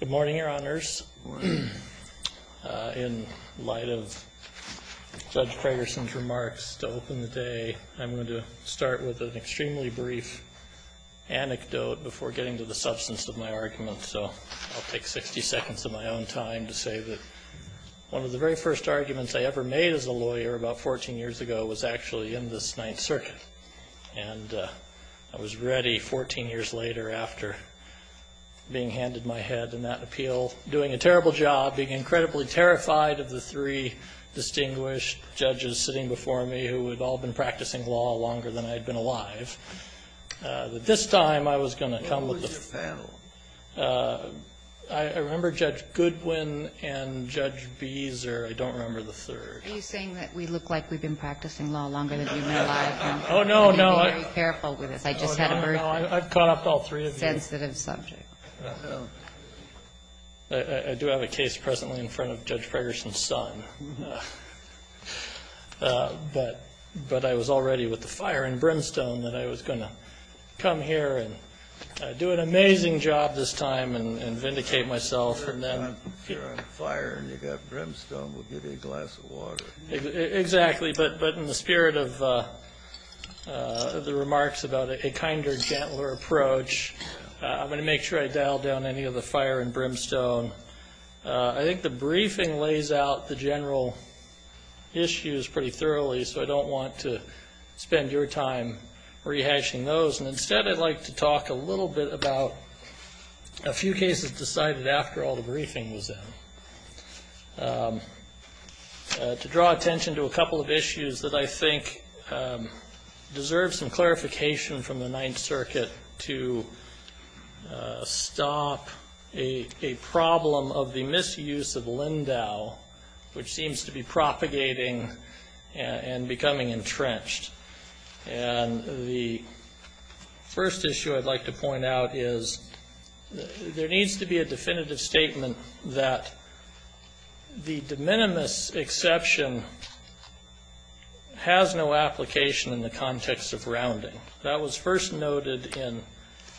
Good morning, your honors. In light of Judge Fragerson's remarks to open the day, I'm going to start with an extremely brief anecdote before getting to the substance of my argument. So I'll take 60 seconds of my own time to say that one of the very first arguments I ever made as a lawyer about 14 years ago was actually in this Ninth Circuit, and I was ready 14 years later after being handed my head in that appeal, doing a terrible job, being incredibly terrified of the three distinguished judges sitting before me who had all been practicing law longer than I had been alive. But this time I was going to come with the third. Scalia I remember Judge Goodwin and Judge Beezer. I don't remember the third. Ginsburg Are you saying that we look like we've been practicing law longer than we've been alive? Gillings Oh, no, no. Ginsburg You're being very careful with this. I just had a very sensitive subject. Gillings Oh, no, no. I've caught up to all three of you. I do have a case presently in front of Judge Fragerson's son. But I was already with the fire and brimstone that I was going to come here and do an amazing job this time and vindicate myself. Kennedy If you're on fire and you've got brimstone, we'll give you a glass of water. Gillings Exactly. But in the spirit of the remarks about a kinder, gentler approach, I'm going to make sure I dial down any of the fire and brimstone. I think the briefing lays out the general issues pretty thoroughly. So I don't want to spend your time rehashing those. And instead I'd like to talk a little bit about a few cases decided after all the briefing was in. To draw attention to a couple of issues that I think deserve some clarification from the Ninth Circuit to stop a problem of the misuse of Lindau, which seems to be propagating and becoming entrenched. And the first issue I'd like to point out is there needs to be a definitive statement that the de minimis exception has no application in the context of rounding. That was first noted in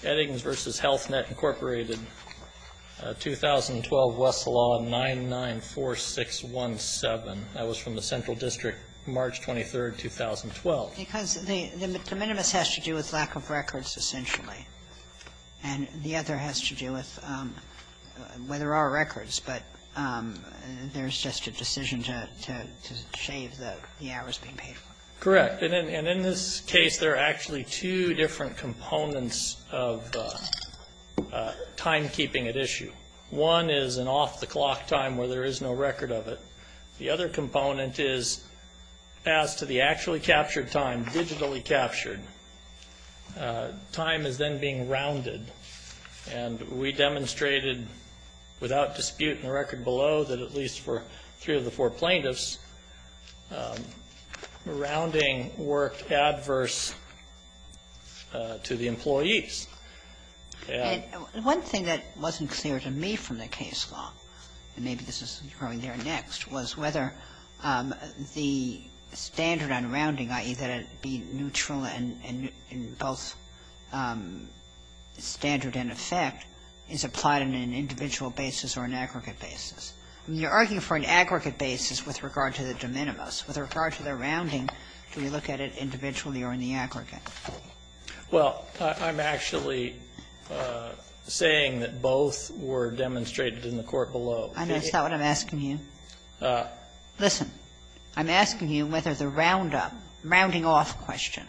Eddings v. Health Net, Incorporated, 2012, Wesselaw 994617. That was from the Central District, March 23, 2012. Kagan Because the de minimis has to do with lack of records, essentially. And the other has to do with whether there are records. But there's just a decision to shave the hours being paid for. Correct. And in this case, there are actually two different components of timekeeping at issue. One is an off-the-clock time where there is no record of it. The other component is as to the actually captured time, digitally captured. Time is then being rounded. And we demonstrated without dispute in the record below that at least for three of the four plaintiffs, the rounding worked adverse to the employees. And one thing that wasn't clear to me from the case law, and maybe this is growing there next, was whether the standard on rounding, i.e., that it be neutral in both standard and effect, is applied on an individual basis or an aggregate basis. I mean, you're arguing for an aggregate basis with regard to the de minimis. With regard to the rounding, do we look at it individually or in the aggregate? Well, I'm actually saying that both were demonstrated in the court below. And is that what I'm asking you? Listen. I'm asking you whether the roundup, rounding off question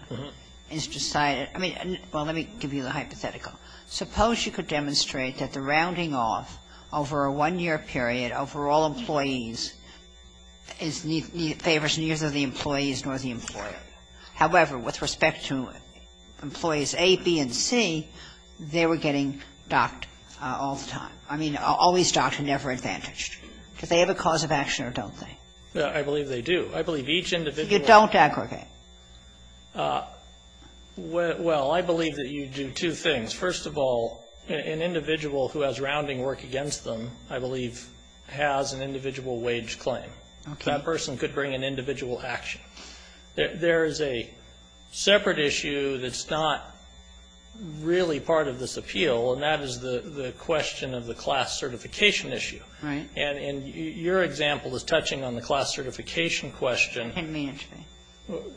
is decided. I mean, well, let me give you the hypothetical. Suppose you could demonstrate that the rounding off over a one-year period over all employees favors neither the employees nor the employer. However, with respect to employees A, B, and C, they were getting docked all the time. I mean, always docked and never advantaged. Do they have a cause of action or don't they? I believe they do. I believe each individual You don't aggregate. Well, I believe that you do two things. First of all, an individual who has rounding work against them, I believe, has an individual wage claim. Okay. That person could bring an individual action. There is a separate issue that's not really part of this appeal, and that is the question of the class certification issue. Right. And your example is touching on the class certification question.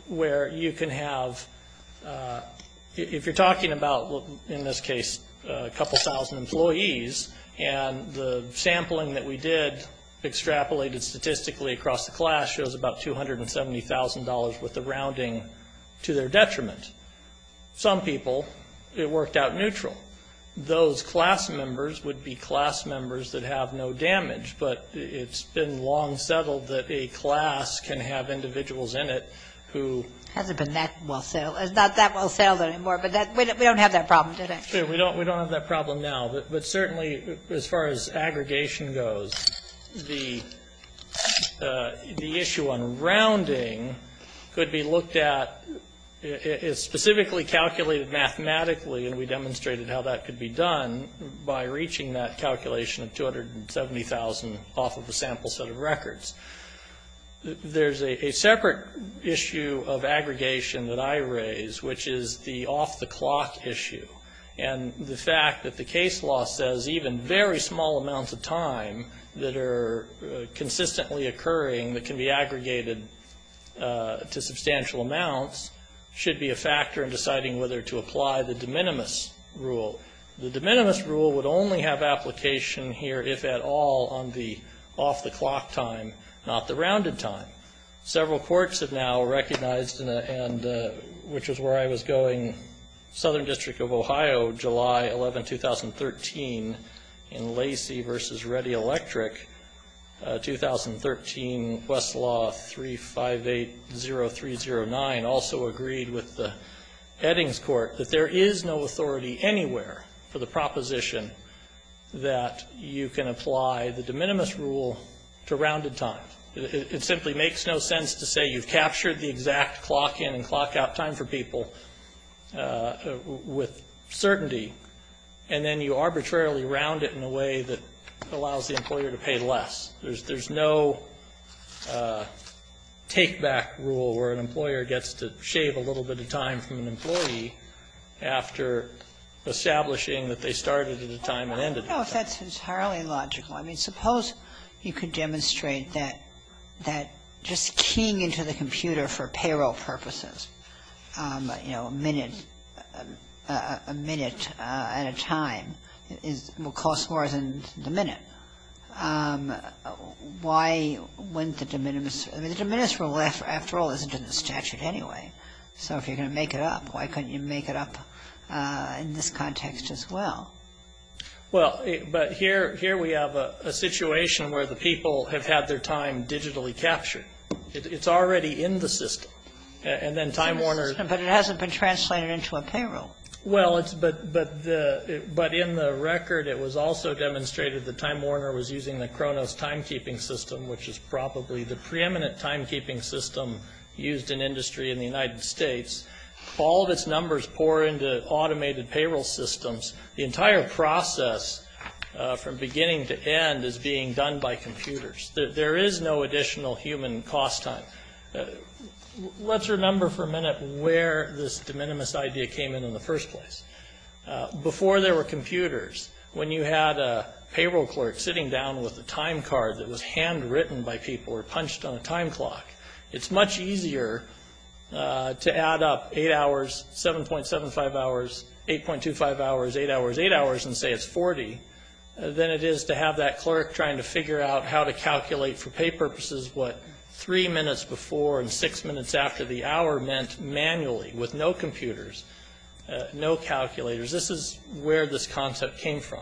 Where you can have, if you're talking about, in this case, a couple thousand employees, and the sampling that we did extrapolated statistically across the class shows about $270,000 worth of rounding to their detriment. Some people, it worked out neutral. Those class members would be class members that have no damage, but it's been long settled that a class can have individuals in it who Hasn't been that well settled. It's not that well settled anymore, but we don't have that problem today. Sure, we don't have that problem now. But certainly, as far as aggregation goes, the issue on rounding could be looked at, is specifically calculated mathematically, and we demonstrated how that There's a separate issue of aggregation that I raise, which is the off-the-clock issue, and the fact that the case law says even very small amounts of time that are consistently occurring that can be aggregated to substantial amounts should be a factor in deciding whether to apply the de minimis rule. The de minimis rule would only have application here, if at all, on the off-the-clock time, not the rounded time. Several courts have now recognized, which is where I was going, Southern District of Ohio, July 11, 2013, in Lacey v. Ready Electric, 2013, Westlaw 3580309, also agreed with the Eddings Court that there is no nowhere for the proposition that you can apply the de minimis rule to rounded time. It simply makes no sense to say you've captured the exact clock in and clock out time for people with certainty, and then you arbitrarily round it in a way that allows the employer to pay less. There's no take-back rule where an employer gets to shave a little bit of time from an employee after establishing that they started at a time and ended at a time. Kagan. I don't know if that's entirely logical. I mean, suppose you could demonstrate that just keying into the computer for payroll purposes, you know, a minute at a time will cost more than the minute. Why wouldn't the de minimis rule? I mean, the de minimis rule, after all, isn't in the statute anyway. So if you're going to make it up, why couldn't you make it up in this context as well? Well, but here we have a situation where the people have had their time digitally captured. It's already in the system. And then Time Warner. But it hasn't been translated into a payroll. Well, but in the record, it was also demonstrated that Time Warner was using the Kronos timekeeping system, which is probably the preeminent timekeeping system used in industry in the United States. All of its numbers pour into automated payroll systems. The entire process from beginning to end is being done by computers. There is no additional human cost time. Let's remember for a minute where this de minimis idea came in in the first place. Before there were computers, when you had a payroll clerk sitting down with a time card that was handwritten by people or punched on a time clock, it's much easier to add up 8 hours, 7.75 hours, 8.25 hours, 8 hours, 8 hours, and say it's 40 than it is to have that clerk trying to figure out how to calculate for pay purposes what 3 minutes before and 6 minutes after the hour meant manually with no computers, no calculators. This is where this concept came from.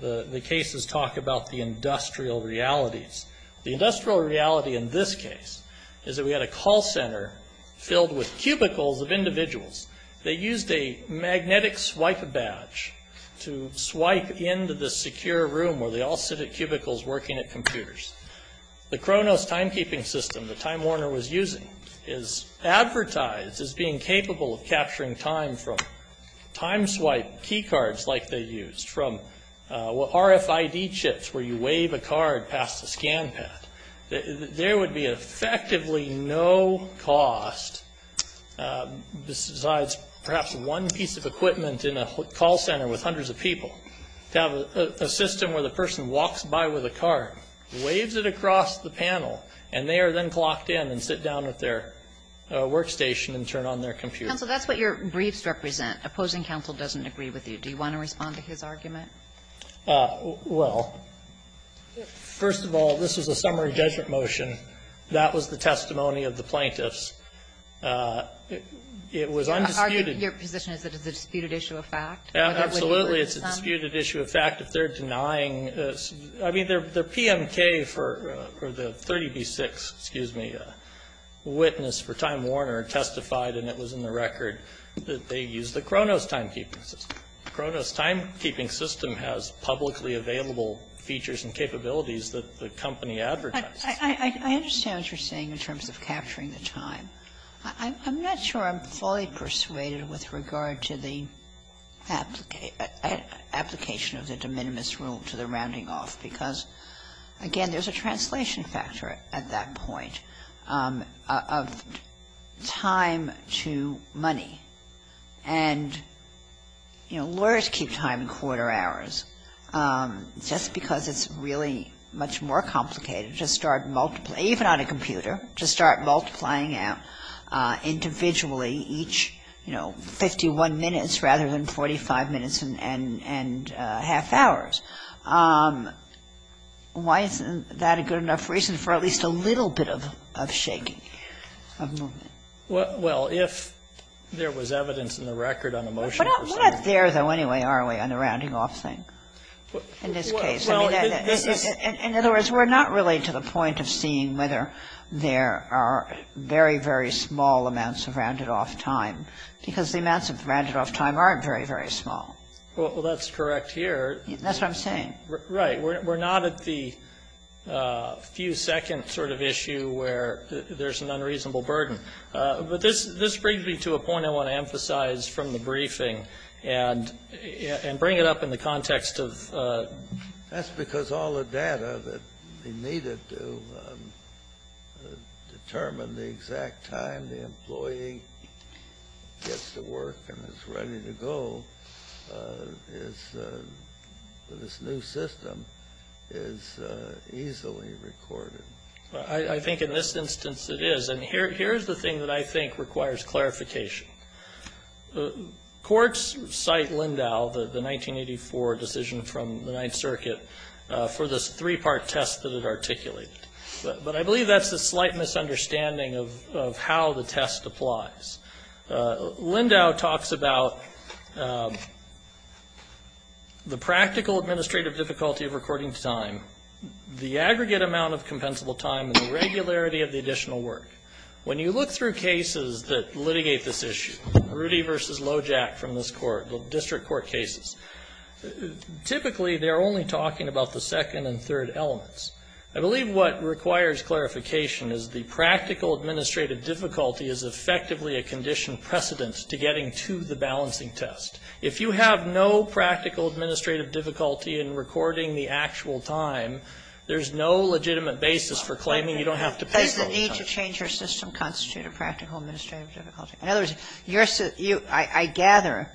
The cases talk about the industrial realities. The industrial reality in this case is that we had a call center filled with cubicles of individuals. They used a magnetic swipe badge to swipe into the secure room where they all sit at cubicles working at computers. The Kronos timekeeping system that Time Warner was using is advertised as being capable of capturing time from time swipe key cards like they used, from RFID chips where you wave a card past a scan pad. There would be effectively no cost besides perhaps one piece of equipment in a call center with hundreds of people to have a system where the person walks by with a card, waves it across the panel, and they are then clocked in and sit down at their workstation and turn on their computer. Counsel, that's what your briefs represent. Opposing counsel doesn't agree with you. Do you want to respond to his argument? Well, first of all, this was a summary judgment motion. That was the testimony of the plaintiffs. It was undisputed. Your position is that it's a disputed issue of fact? Absolutely, it's a disputed issue of fact. If they're denying, I mean, their PMK for the 30B-6, excuse me, witness for Time Warner testified, and it was in the record, that they used the Kronos timekeeping system. The Kronos timekeeping system has publicly available features and capabilities that the company advertises. I understand what you're saying in terms of capturing the time. I'm not sure I'm fully persuaded with regard to the application of the de minimis rule to the rounding off, because, again, there's a translation factor at that point of time to money. And, you know, lawyers keep time in quarter hours, just because it's really much more complicated to start multiplying, even on a computer, to start multiplying out individually each, you know, 51 minutes rather than 45 minutes and half hours. Why isn't that a good enough reason for at least a little bit of shaking of movement? Well, if there was evidence in the record on a motion procedure. We're not there, though, anyway, are we, on the rounding off thing in this case? I mean, in other words, we're not really to the point of seeing whether there are very, very small amounts of rounded off time, because the amounts of rounded off time aren't very, very small. Well, that's correct here. That's what I'm saying. Right. We're not at the few-second sort of issue where there's an unreasonable burden. But this brings me to a point I want to emphasize from the briefing and bring it up in the context of... That's because all the data that we needed to determine the exact time when the employee gets to work and is ready to go is this new system is easily recorded. I think in this instance it is. And here's the thing that I think requires clarification. Courts cite Lindau, the 1984 decision from the Ninth Circuit, for this three-part test that it articulated. But I believe that's a slight misunderstanding of how the test applies. Lindau talks about the practical administrative difficulty of recording time, the aggregate amount of compensable time, and the regularity of the additional work. When you look through cases that litigate this issue, Rudy v. Lojack from this court, district court cases, typically they're only talking about the second and third elements. I believe what requires clarification is the practical administrative difficulty is effectively a condition precedent to getting to the balancing test. If you have no practical administrative difficulty in recording the actual time, there's no legitimate basis for claiming you don't have to pay for all the time. Does the need to change your system constitute a practical administrative difficulty? In other words, I gather,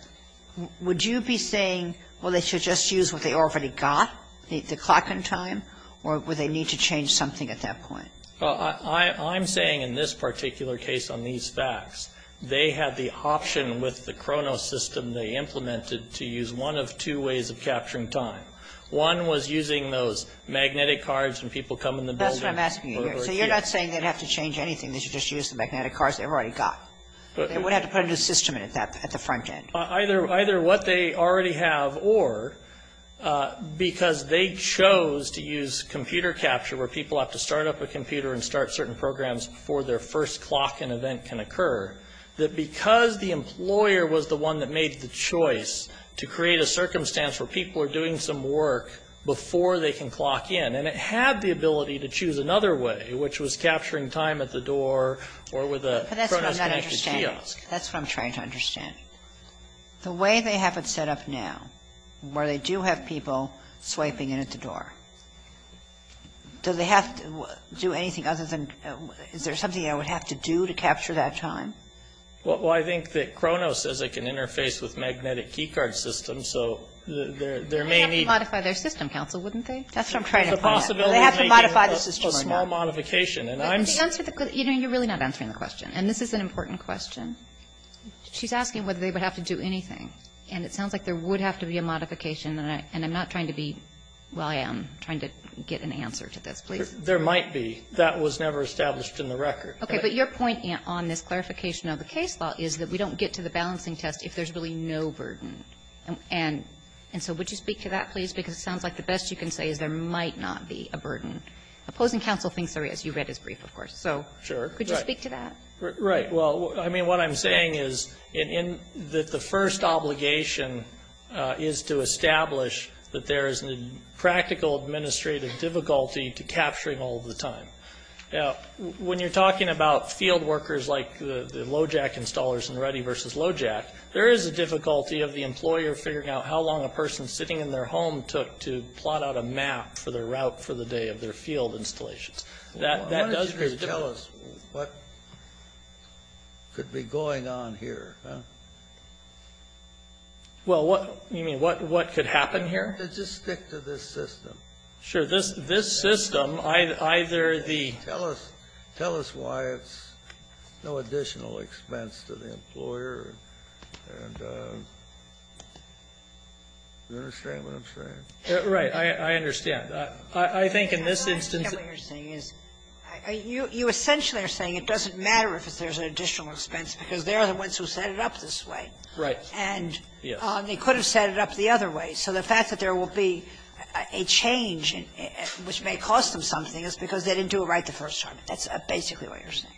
would you be saying, well, they should just use what they already got, the clock and time, or would they need to change something at that point? I'm saying in this particular case on these facts, they had the option with the Kronos system they implemented to use one of two ways of capturing time. One was using those magnetic cards when people come in the building. That's what I'm asking you here. So you're not saying they'd have to change anything. They should just use the magnetic cards they already got. They would have to put a new system in at the front end. Either what they already have, or because they chose to use computer capture, where people have to start up a computer and start certain programs before their first clock and event can occur, that because the employer was the one that made the choice to create a circumstance where people are doing some work before they can clock in, and it had the ability to choose another way, which was capturing time at the door or with a Kronos connected kiosk. That's what I'm trying to understand. The way they have it set up now, where they do have people swiping in at the door, do they have to do anything other than is there something they would have to do to capture that time? Well, I think that Kronos says it can interface with magnetic key card systems, so there may be... They have to modify their system, counsel, wouldn't they? That's what I'm trying to find out. It's a possibility. They have to modify the system or not. It's a small modification. You're really not answering the question. And this is an important question. She's asking whether they would have to do anything. And it sounds like there would have to be a modification, and I'm not trying to be... Well, I am trying to get an answer to this. Please. There might be. That was never established in the record. Okay. But your point on this clarification of the case law is that we don't get to the balancing test if there's really no burden. And so would you speak to that, please? Because it sounds like the best you can say is there might not be a burden. Opposing counsel thinks there is. You read his brief, of course. Sure. Could you speak to that? Right. Well, I mean, what I'm saying is that the first obligation is to establish that there is a practical administrative difficulty to capturing all the time. Now, when you're talking about field workers like the LOJAC installers in Ruddy versus LOJAC, there is a difficulty of the employer figuring out how long a person sitting in their home took to plot out a map for the route for the day of their field installations. That does create a difficulty. Why don't you just tell us what could be going on here? Well, what? You mean what could happen here? Just stick to this system. Sure. This system, either the ---- Tell us why it's no additional expense to the employer. And you understand what I'm saying? Right. I understand. I think in this instance ---- What you're saying is you essentially are saying it doesn't matter if there's an additional expense because they're the ones who set it up this way. Right. And they could have set it up the other way. So the fact that there will be a change, which may cost them something, is because they didn't do it right the first time. That's basically what you're saying.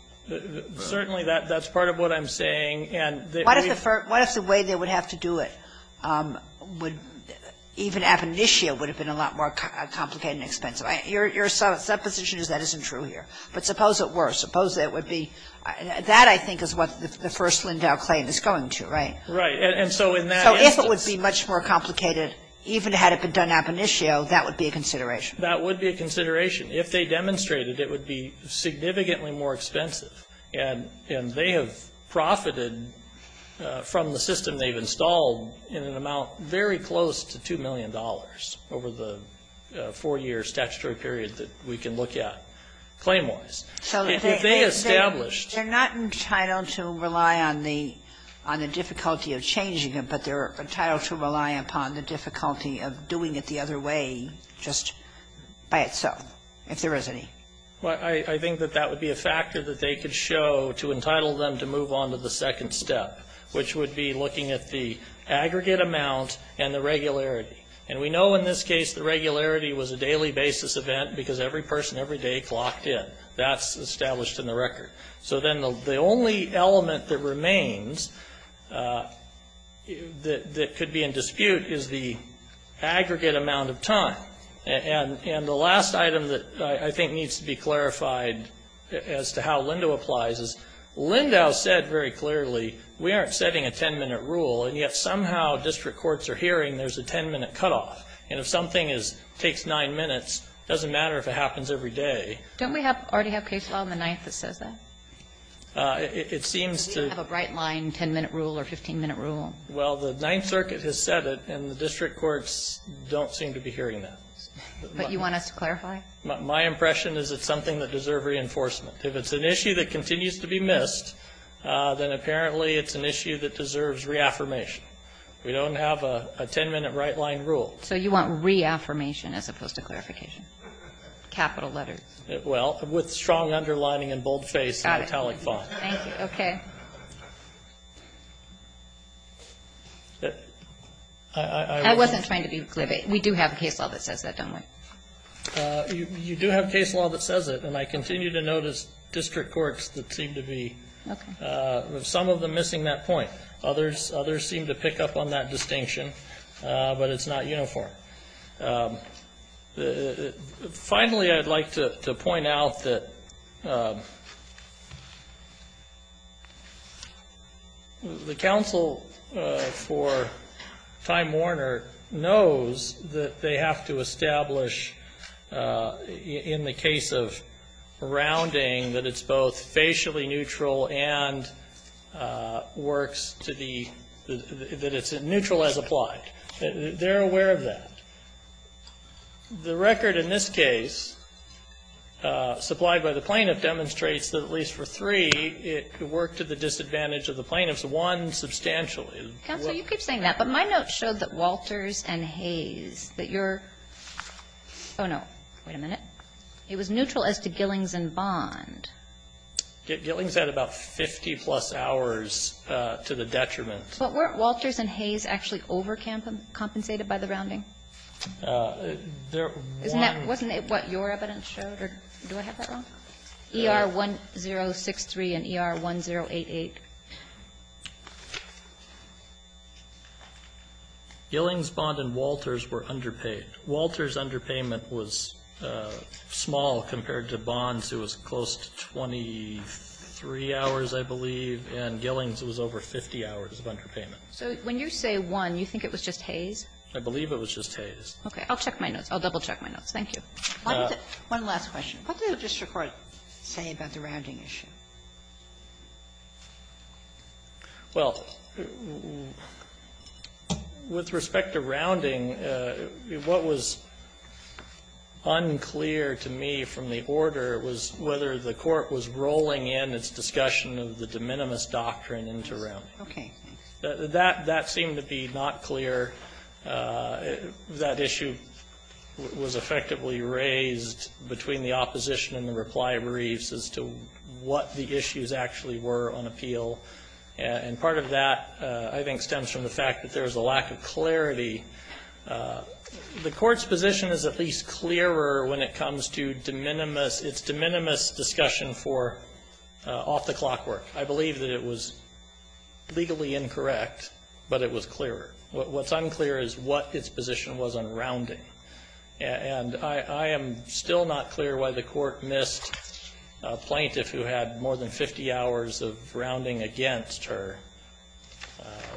Certainly, that's part of what I'm saying. And we've ---- What if the way they would have to do it would even ab initio would have been a lot more complicated and expensive? Your supposition is that isn't true here. But suppose it were. Suppose it would be. That, I think, is what the first Lindau claim is going to, right? Right. And so in that instance ---- So if it would be much more complicated, even had it been done ab initio, that would be a consideration. That would be a consideration. If they demonstrated it would be significantly more expensive. And they have profited from the system they've installed in an amount very close to $2 million over the four-year statutory period that we can look at, claim-wise. So if they established ---- They're not entitled to rely on the difficulty of changing it, but they're entitled to rely upon the difficulty of doing it the other way, just by itself, if there is any. I think that that would be a factor that they could show to entitle them to move on to the second step, which would be looking at the aggregate amount and the regularity. And we know in this case the regularity was a daily basis event because every person every day clocked in. That's established in the record. So then the only element that remains that could be in dispute is the aggregate amount of time. And the last item that I think needs to be clarified as to how Lindau applies is, Lindau said very clearly, we aren't setting a 10-minute rule, and yet somehow district courts are hearing there's a 10-minute cutoff. And if something is ---- takes nine minutes, it doesn't matter if it happens every day. Don't we have ---- already have case law in the Ninth that says that? It seems to ---- Do we have a bright line 10-minute rule or 15-minute rule? Well, the Ninth Circuit has said it, and the district courts don't seem to be hearing that. But you want us to clarify? My impression is it's something that deserves reinforcement. If it's an issue that continues to be missed, then apparently it's an issue that deserves reaffirmation. We don't have a 10-minute right-line rule. So you want reaffirmation as opposed to clarification? Capital letters. Well, with strong underlining and boldface and italic font. Got it. Thank you. Okay. I wasn't trying to be glib. We do have case law that says that, don't we? You do have case law that says it, and I continue to notice district courts that seem to be, some of them missing that point. Others seem to pick up on that distinction, but it's not uniform. Finally, I'd like to point out that the counsel for Time Warner knows that they have to establish, in the case of rounding, that it's both facially neutral and works to the, that it's neutral as applied. They're aware of that. The record in this case, supplied by the plaintiff, demonstrates that at least for three, it worked to the disadvantage of the plaintiffs. One, substantially. Counsel, you keep saying that, but my notes show that Walters and Hayes, that you're, oh no, wait a minute. It was neutral as to Gillings and Bond. Gillings had about 50 plus hours to the detriment. But weren't Walters and Hayes actually overcompensated by the rounding? Wasn't that what your evidence showed? Do I have that wrong? ER 1063 and ER 1088. Gillings, Bond, and Walters were underpaid. Walters' underpayment was small compared to Bond's, who was close to 23 hours, I believe. And Gillings was over 50 hours of underpayment. So when you say one, you think it was just Hayes? I believe it was just Hayes. Okay. I'll check my notes. I'll double check my notes. Thank you. One last question. What did the district court say about the rounding issue? Well, with respect to rounding, what was unclear to me from the order was whether the court was rolling in its discussion of the de minimis doctrine into rounding. Okay. That seemed to be not clear. That issue was effectively raised between the opposition and the reply briefs as to what the issues actually were on appeal. And part of that, I think, stems from the fact that there was a lack of clarity The court's position is at least clearer when it comes to its de minimis discussion for off-the-clock work. I believe that it was legally incorrect, but it was clearer. What's unclear is what its position was on rounding. And I am still not clear why the court missed a plaintiff who had more than 50 hours of rounding against her,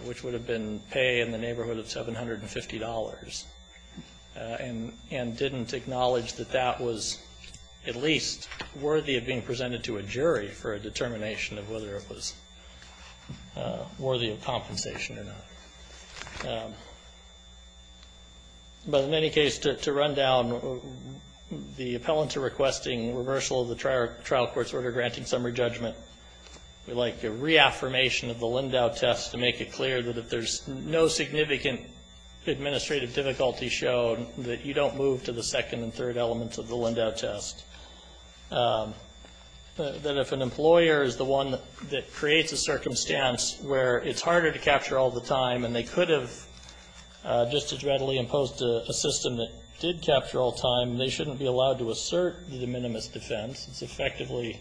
which would have been pay in the neighborhood of $750, and didn't acknowledge that that was at least worthy of being presented to a jury for a determination of whether it was worthy of compensation or not. But in any case, to run down the appellant to requesting reversal of the trial court's order granting summary judgment, we like the reaffirmation of the Lindau test to make it clear that if there's no significant administrative difficulty shown, that you don't move to the second and third elements of the Lindau test. That if an employer is the one that creates a circumstance where it's harder to capture all the time, and they could have just as readily imposed a system that did capture all time, they shouldn't be allowed to assert the de minimis defense. It's effectively,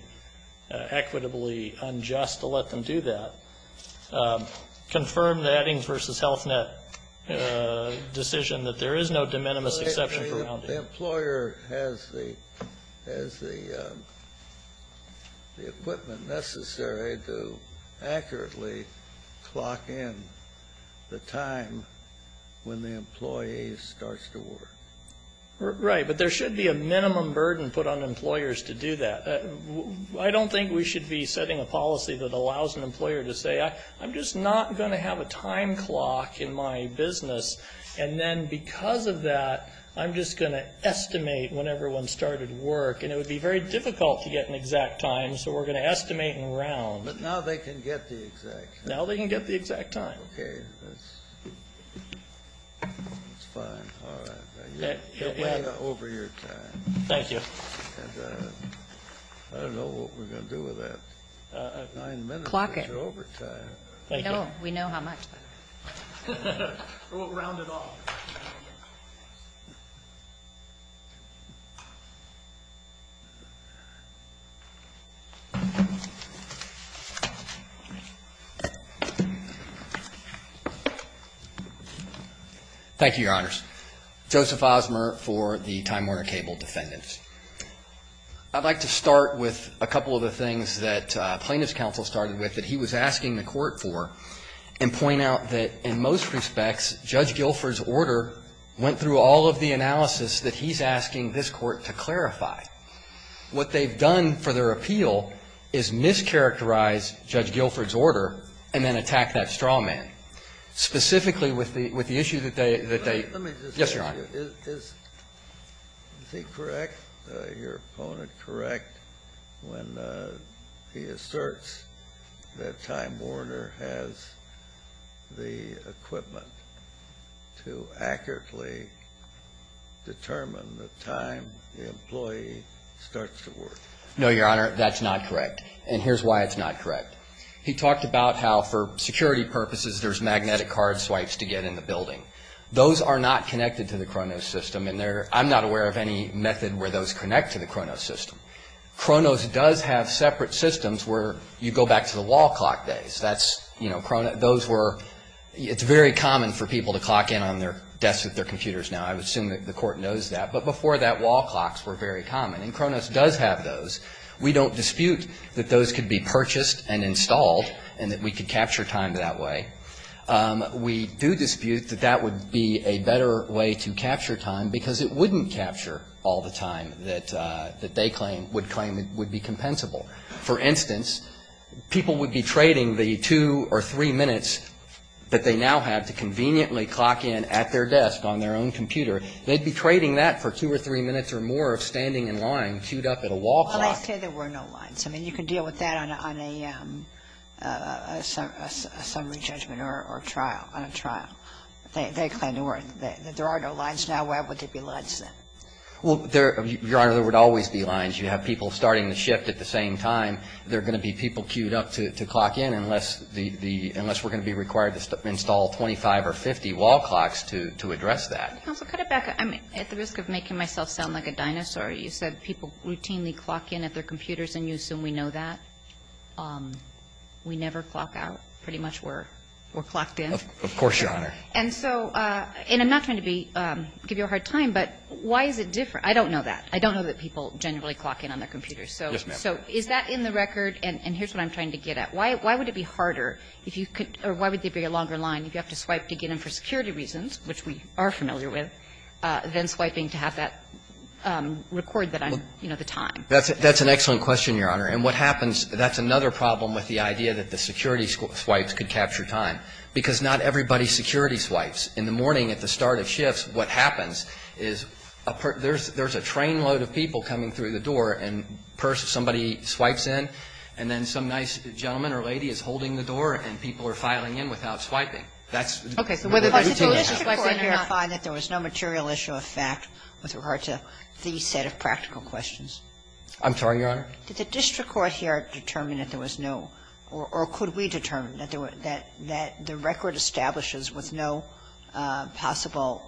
equitably unjust to let them do that. Confirm the adding versus health net decision that there is no de minimis exception for rounding. The employer has the equipment necessary to accurately clock in the time when the employee starts to work. Right, but there should be a minimum burden put on employers to do that. I don't think we should be setting a policy that allows an employer to say, I'm just not going to have a time clock in my business, and then because of that, I'm just going to estimate when everyone started work, and it would be very difficult to get an exact time, so we're going to estimate and round. But now they can get the exact time. Now they can get the exact time. Okay, that's fine. Alright. You're way over your time. Thank you. I don't know what we're going to do with that. Nine minutes is your overtime. Clock it. We know how much. We'll round it off. Thank you. Thank you, Your Honors. Joseph Osmer for the Time Warner Cable defendants. I'd like to start with a couple of the things that plaintiff's counsel started with that he was asking the court for and point out that in most respects, Judge Guilford's order went through all of the analysis that he's asking this court to clarify. What they've done for their appeal is mischaracterize Judge Guilford's order and then attack that straw man. Specifically with the issue that they... Yes, Your Honor. Is he correct? Is your opponent correct when he asserts that Time Warner has the equipment to accurately determine the time the employee starts to work? No, Your Honor. That's not correct. And here's why it's not correct. He talked about how for security purposes there's magnetic card swipes to get in the building. Those are not connected to the Cronos system and I'm not aware of any method where those connect to the Cronos system. Cronos does have separate systems where you go back to the wall clock days. It's very common for people to clock in on their desks with their computers now. I would assume the court knows that, but before that wall clocks were very common and Cronos does have those. We don't dispute that those could be purchased and installed and that we could capture time that way. We do dispute that that would be a better way to capture time because it wouldn't capture all the time that they would claim would be compensable. For instance, people would be trading the two or three minutes that they now have to conveniently clock in at their desk on their own computer. They'd be trading that for two or three minutes or more of standing in line queued up at a wall clock. Well, I say there were no lines. I mean, you can deal with that on a summary judgment or trial, on a trial. They claim there are no lines now. Why would there be lines then? Well, Your Honor, there would always be lines. You have people starting the shift at the same time. There are going to be people queued up to clock in unless we're going to be required to install 25 or 50 wall clocks to address that. Counsel, cut it back. I'm at the risk of making myself sound like a dinosaur. You said people routinely clock in at their computers and you assume we know that. We never clock out. Pretty much we're clocked in. Of course, Your Honor. And I'm not trying to give you a hard time, but why is it different? I don't know that. I don't know that people generally clock in on their computers. Yes, ma'am. So is that in the record? And here's what I'm trying to get at. Why would it be harder if you could or why would there be a longer line if you have to swipe to get in for security reasons, which we are familiar with, than swiping to have that record that I'm, you know, the time? That's an excellent question, Your Honor. And what happens, that's another problem with the idea that the security swipes could capture time. Because not everybody security swipes. In the morning at the start of shifts, what happens is there's a train load of people coming through the door and somebody swipes in and then some nice gentleman or lady is holding the door and people are filing in without swiping. That's the routine. Okay. So whether they do the swiping or not. So does the district court here find that there was no material issue of fact with regard to the set of practical questions? I'm sorry, Your Honor? Did the district court here determine that there was no, or could we determine that the record establishes with no possible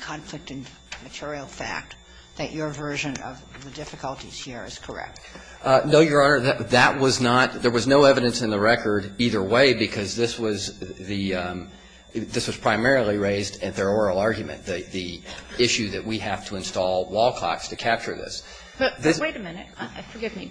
conflict in material fact that your version of the difficulties here is correct? No, Your Honor. That was not, there was no evidence in the record either way, because this was the this was primarily raised at their oral argument. The issue that we have to install wall clocks to capture this. But wait a minute. Forgive me.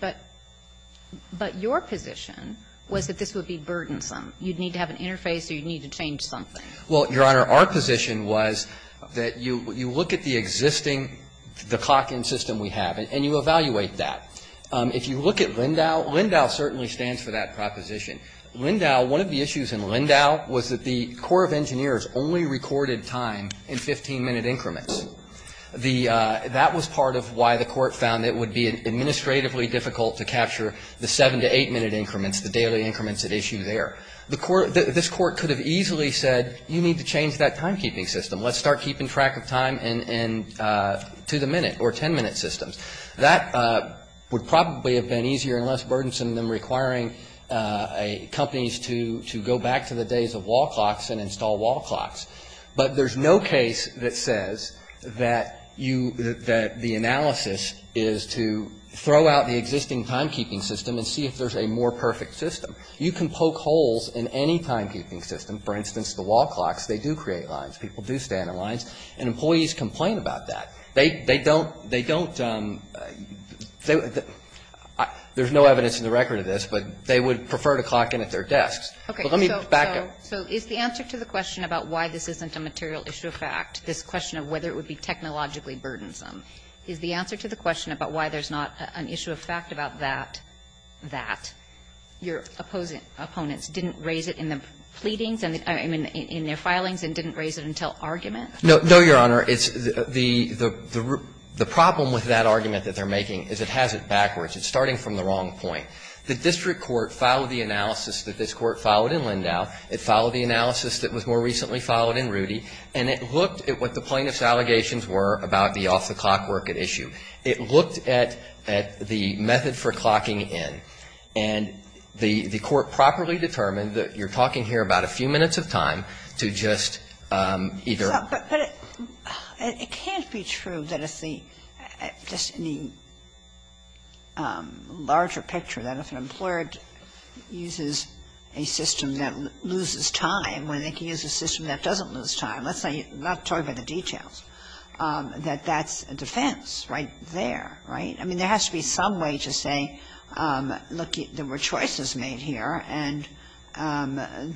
But your position was that this would be burdensome. You'd need to have an interface or you'd need to change something. Well, Your Honor, our position was that you look at the existing, the clock in system we have, and you evaluate that. If you look at Lindau, Lindau certainly stands for that proposition. Lindau, one of the issues in Lindau was that the Corps of Engineers only recorded time in 15-minute increments. That was part of why the Court found it would be administratively difficult to capture the 7- to 8-minute increments, the daily increments at issue there. The Court, this Court could have easily said you need to change that timekeeping system. Let's start keeping track of time and to the minute or 10-minute systems. That would probably have been easier and less burdensome than requiring a company to go back to the days of wall clocks and install wall clocks. But there's no case that says that you, that the analysis is to throw out the existing timekeeping system and see if there's a more perfect system. You can poke holes in any timekeeping system. For instance, the wall clocks, they do create lines. People do stand in lines. And employees complain about that. They don't, they don't, there's no evidence in the record of this, but they would prefer to clock in at their desks. But let me back up. So is the answer to the question about why this isn't a material issue of fact, this question of whether it would be technologically burdensome, is the answer to the question about why there's not an issue of fact about that, that your opposing opponents didn't raise it in the pleadings, I mean, in their filings and didn't raise it until argument? No, Your Honor. The problem with that argument that they're making is it has it backwards. It's starting from the wrong point. The district court followed the analysis that this Court followed in Lindau. It followed the analysis that was more recently followed in Rudy. And it looked at what the plaintiff's allegations were about the off-the-clock work at issue. It looked at the method for clocking in. And the Court properly determined that you're talking here about a few minutes of time to just either. But it can't be true that if the, just in the larger picture, that if an employer uses a system that loses time, when they can use a system that doesn't lose time, let's not talk about the details, that that's a defense right there, right? I mean, there has to be some way to say, look, there were choices made here, and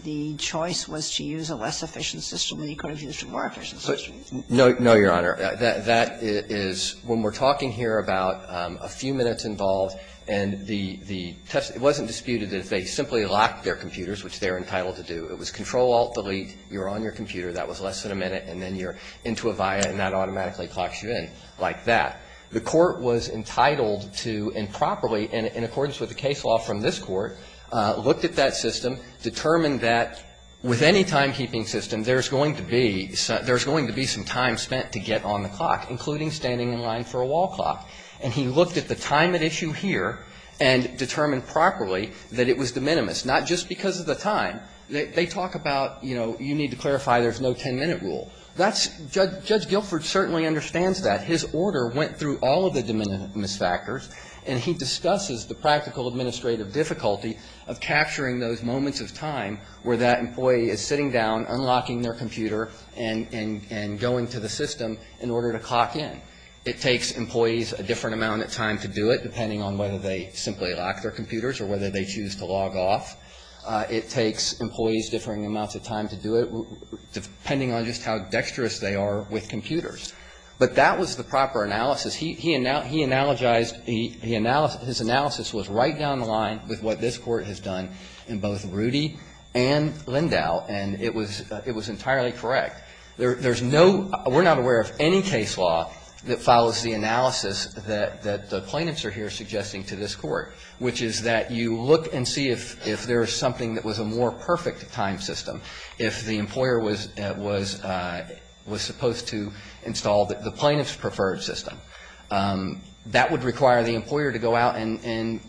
the choice was to use a less efficient system than you could have used a more efficient system. No, Your Honor. That is, when we're talking here about a few minutes involved, and the test, it wasn't disputed that if they simply locked their computers, which they're entitled to do, it was Control-Alt-Delete, you're on your computer, that was less than a minute, and then you're into Avaya, and that automatically clocks you in like that. The Court was entitled to, and properly, in accordance with the case law from this Court, looked at that system, determined that with any timekeeping system, there's going to be some time spent to get on the clock, including standing in line for a wall clock, and he looked at the time at issue here and determined properly that it was de minimis, not just because of the time. They talk about, you know, you need to clarify there's no 10-minute rule. That's, Judge Guilford certainly understands that. His order went through all of the de minimis factors, and he discusses the practical administrative difficulty of capturing those moments of time where that employee is sitting down, unlocking their computer, and going to the system in order to clock in. It takes employees a different amount of time to do it, depending on whether they simply lock their computers or whether they choose to log off. It takes employees differing amounts of time to do it, depending on just how dexterous they are with computers. But that was the proper analysis. He analogized, his analysis was right down the line with what this Court has done in both Rudy and Lindau, and it was entirely correct. There's no – we're not aware of any case law that follows the analysis that the plaintiffs are here suggesting to this Court, which is that you look and see if there is something that was a more perfect time system if the employer was supposed to install the plaintiff's preferred system. That would require the employer to go out and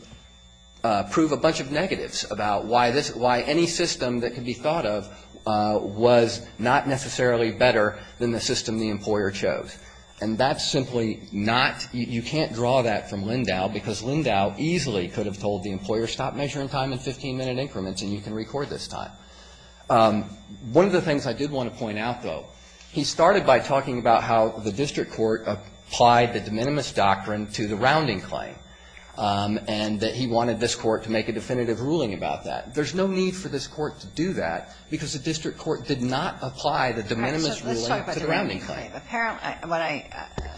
prove a bunch of negatives about why this – why any system that could be thought of was not necessarily better than the system the employer chose. And that's simply not – you can't draw that from Lindau, because Lindau easily could have told the employer, stop measuring time in 15-minute increments and you can record this time. One of the things I did want to point out, though, he started by talking about how the district court applied the de minimis doctrine to the rounding claim, and that he wanted this Court to make a definitive ruling about that. There's no need for this Court to do that, because the district court did not apply the de minimis ruling to the rounding claim. Sotomayor,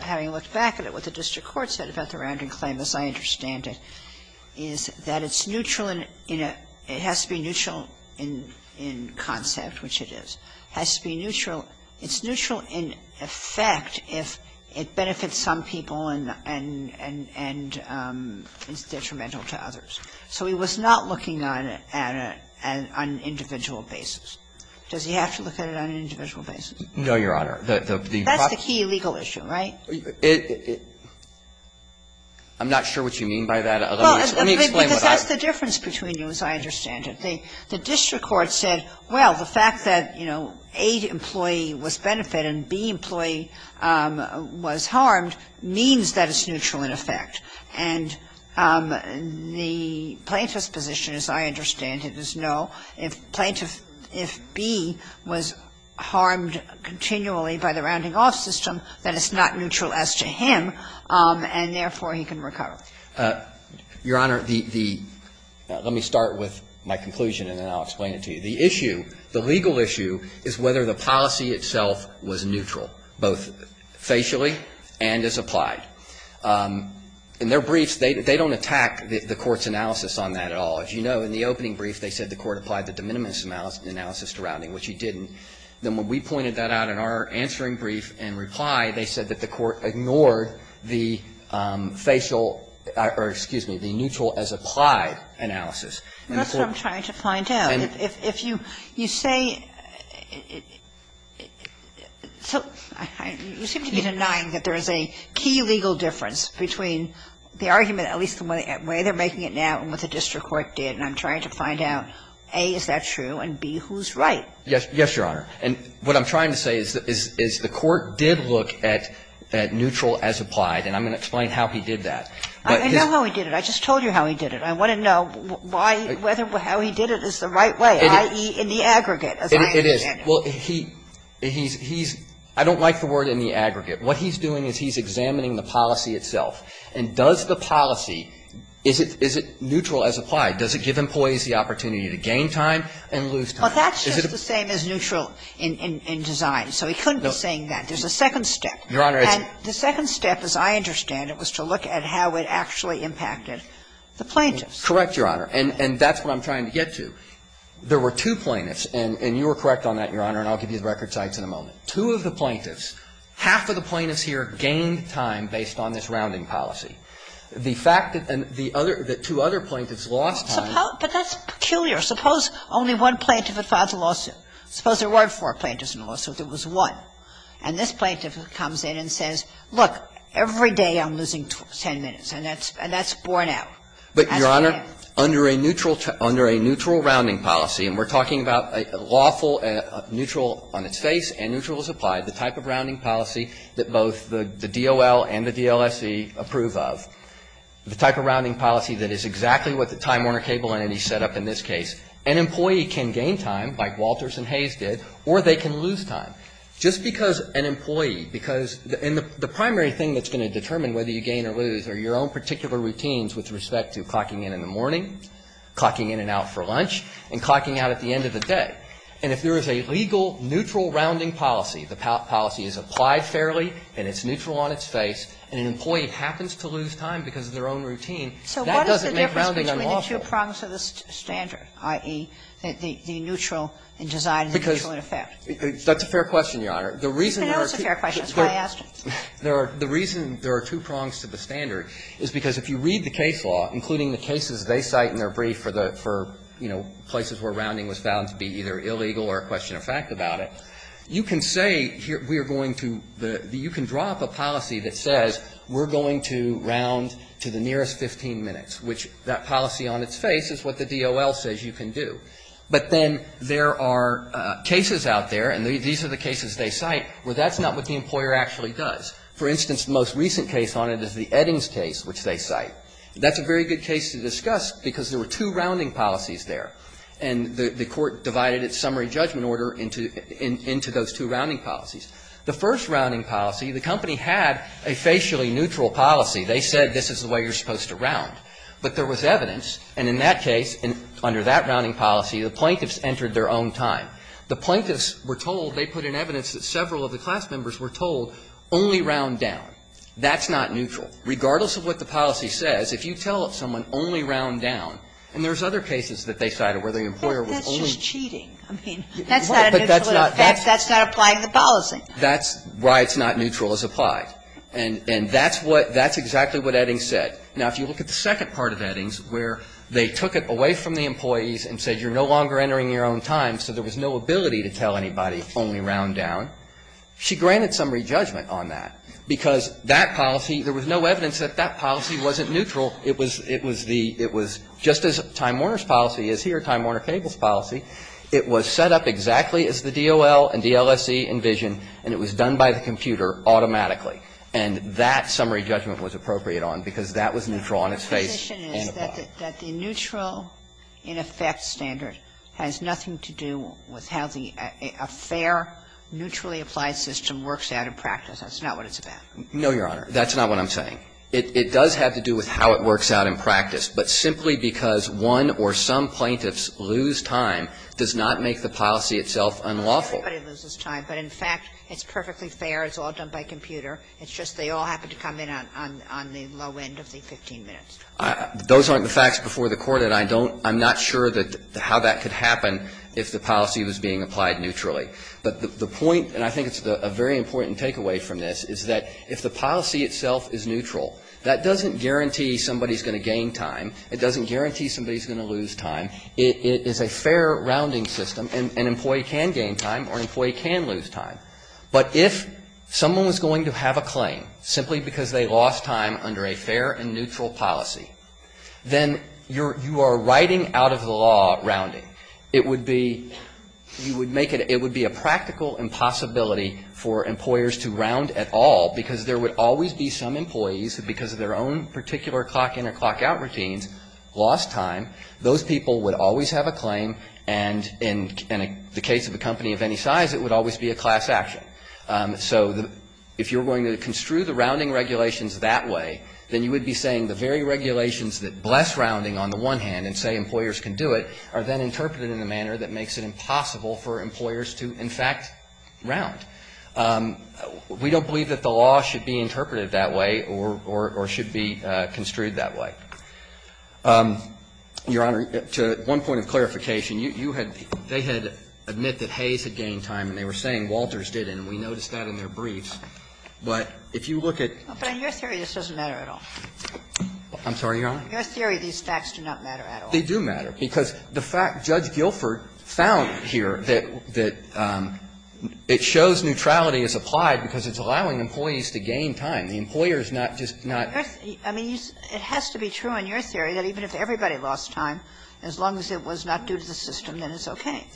having looked back at it, what the district court said about the rounding claim, as I understand it, is that it's neutral in – it has to be neutral in concept, which it is. It has to be neutral. It's neutral in effect if it benefits some people and is detrimental to others. So he was not looking at it on an individual basis. Does he have to look at it on an individual basis? No, Your Honor. That's the key legal issue, right? It – I'm not sure what you mean by that. Well, let me explain what I – Because that's the difference between you, as I understand it. The district court said, well, the fact that, you know, A employee was benefited and B employee was harmed means that it's neutral in effect. And the plaintiff's position, as I understand it, is no. If plaintiff – if B was harmed continually by the rounding-off system, then it's not neutral as to him, and therefore he can recover. Your Honor, the – let me start with my conclusion and then I'll explain it to you. The issue, the legal issue, is whether the policy itself was neutral, both facially and as applied. In their briefs, they don't attack the Court's analysis on that at all. As you know, in the opening brief, they said the Court applied the de minimis analysis to rounding, which it didn't. Then when we pointed that out in our answering brief and reply, they said that the neutral as applied analysis. And that's what I'm trying to find out. If you – you say – you seem to be denying that there is a key legal difference between the argument, at least the way they're making it now and what the district court did, and I'm trying to find out, A, is that true, and, B, who's right? Yes, Your Honor. And what I'm trying to say is the Court did look at neutral as applied, and I'm going to explain how he did that. I know how he did it. I just told you how he did it. I want to know why – whether how he did it is the right way, i.e., in the aggregate as I understand it. It is. Well, he's – I don't like the word in the aggregate. What he's doing is he's examining the policy itself. And does the policy – is it neutral as applied? Does it give employees the opportunity to gain time and lose time? Well, that's just the same as neutral in design. So he couldn't be saying that. There's a second step. Your Honor, it's – And the second step, as I understand it, was to look at how it actually impacted the plaintiffs. Correct, Your Honor. And that's what I'm trying to get to. There were two plaintiffs, and you were correct on that, Your Honor, and I'll give you the record sites in a moment. Two of the plaintiffs, half of the plaintiffs here gained time based on this rounding policy. The fact that the other – that two other plaintiffs lost time – But that's peculiar. Suppose only one plaintiff had filed the lawsuit. Suppose there weren't four plaintiffs in the lawsuit. There was one. And this plaintiff comes in and says, look, every day I'm losing 10 minutes. And that's – and that's borne out. But, Your Honor, under a neutral – under a neutral rounding policy, and we're talking about a lawful neutral on its face and neutral as applied, the type of rounding policy that both the DOL and the DLSC approve of, the type of rounding policy that is exactly what the Time Warner Cable entity set up in this case. An employee can gain time, like Walters and Hayes did, or they can lose time. Just because an employee, because – and the primary thing that's going to determine whether you gain or lose are your own particular routines with respect to clocking in in the morning, clocking in and out for lunch, and clocking out at the end of the day. And if there is a legal neutral rounding policy, the policy is applied fairly, and it's neutral on its face, and an employee happens to lose time because of their own routine, that doesn't make rounding unlawful. I mean, the two prongs to the standard, i.e., the neutral in design and the neutral in effect. That's a fair question, Your Honor. The reason there are two prongs to the standard is because if you read the case law, including the cases they cite in their brief for the – for, you know, places where rounding was found to be either illegal or a question of fact about it, you can say we are going to – you can draw up a policy that says we're going to round to the contrary. So the fact that there is a rounding policy on its face is what the DOL says you can do. But then there are cases out there, and these are the cases they cite, where that's not what the employer actually does. For instance, the most recent case on it is the Eddings case, which they cite. That's a very good case to discuss because there were two rounding policies there, and the court divided its summary judgment order into those two rounding policies. The first rounding policy, the company had a facially neutral policy. They said this is the way you're supposed to round. But there was evidence. And in that case, under that rounding policy, the plaintiffs entered their own time. The plaintiffs were told – they put in evidence that several of the class members were told only round down. That's not neutral. Regardless of what the policy says, if you tell someone only round down, and there was other cases that they cited where the employer was only – But that's just cheating. I mean, that's not a neutral effect. That's not applying the policy. That's why it's not neutral as applied. And that's what – that's exactly what Eddings said. Now, if you look at the second part of Eddings where they took it away from the employees and said you're no longer entering your own time, so there was no ability to tell anybody only round down, she granted summary judgment on that because that policy – there was no evidence that that policy wasn't neutral. It was – it was the – it was just as Time Warner's policy is here, Time Warner Cable's policy. It was set up exactly as the DOL and DLSE envision, and it was done by the computer automatically. And that summary judgment was appropriate on because that was neutral on its face on the plot. The position is that the neutral in effect standard has nothing to do with how the – a fair, neutrally applied system works out in practice. That's not what it's about. No, Your Honor. That's not what I'm saying. It does have to do with how it works out in practice. But simply because one or some plaintiffs lose time does not make the policy itself unlawful. Everybody loses time. But in fact, it's perfectly fair. It's all done by computer. It's just they all happen to come in on the low end of the 15 minutes. Those aren't the facts before the Court, and I don't – I'm not sure that – how that could happen if the policy was being applied neutrally. But the point, and I think it's a very important takeaway from this, is that if the policy itself is neutral, that doesn't guarantee somebody's going to gain time. It doesn't guarantee somebody's going to lose time. It is a fair rounding system. An employee can gain time or an employee can lose time. But if someone was going to have a claim simply because they lost time under a fair and neutral policy, then you are writing out of the law rounding. It would be – you would make it – it would be a practical impossibility for employers to round at all, because there would always be some employees who, because of their own particular clock-in or clock-out routines, lost time. Those people would always have a claim, and in the case of a company of any size, it would always be a class action. So if you're going to construe the rounding regulations that way, then you would be saying the very regulations that bless rounding on the one hand and say employers can do it are then interpreted in a manner that makes it impossible for employers to in fact round. We don't believe that the law should be interpreted that way or should be construed that way. Your Honor, to one point of clarification, you had – they had admitted that Hayes had gained time, and they were saying Walters didn't, and we noticed that in their briefs, but if you look at – But in your theory, this doesn't matter at all. I'm sorry, Your Honor? Your theory, these facts do not matter at all. They do matter, because the fact Judge Guilford found here that it shows neutrality is applied because it's allowing employees to gain time. The employer is not just not – I mean, it has to be true in your theory that even if everybody lost time, as long as it was not due to the system, then it's okay.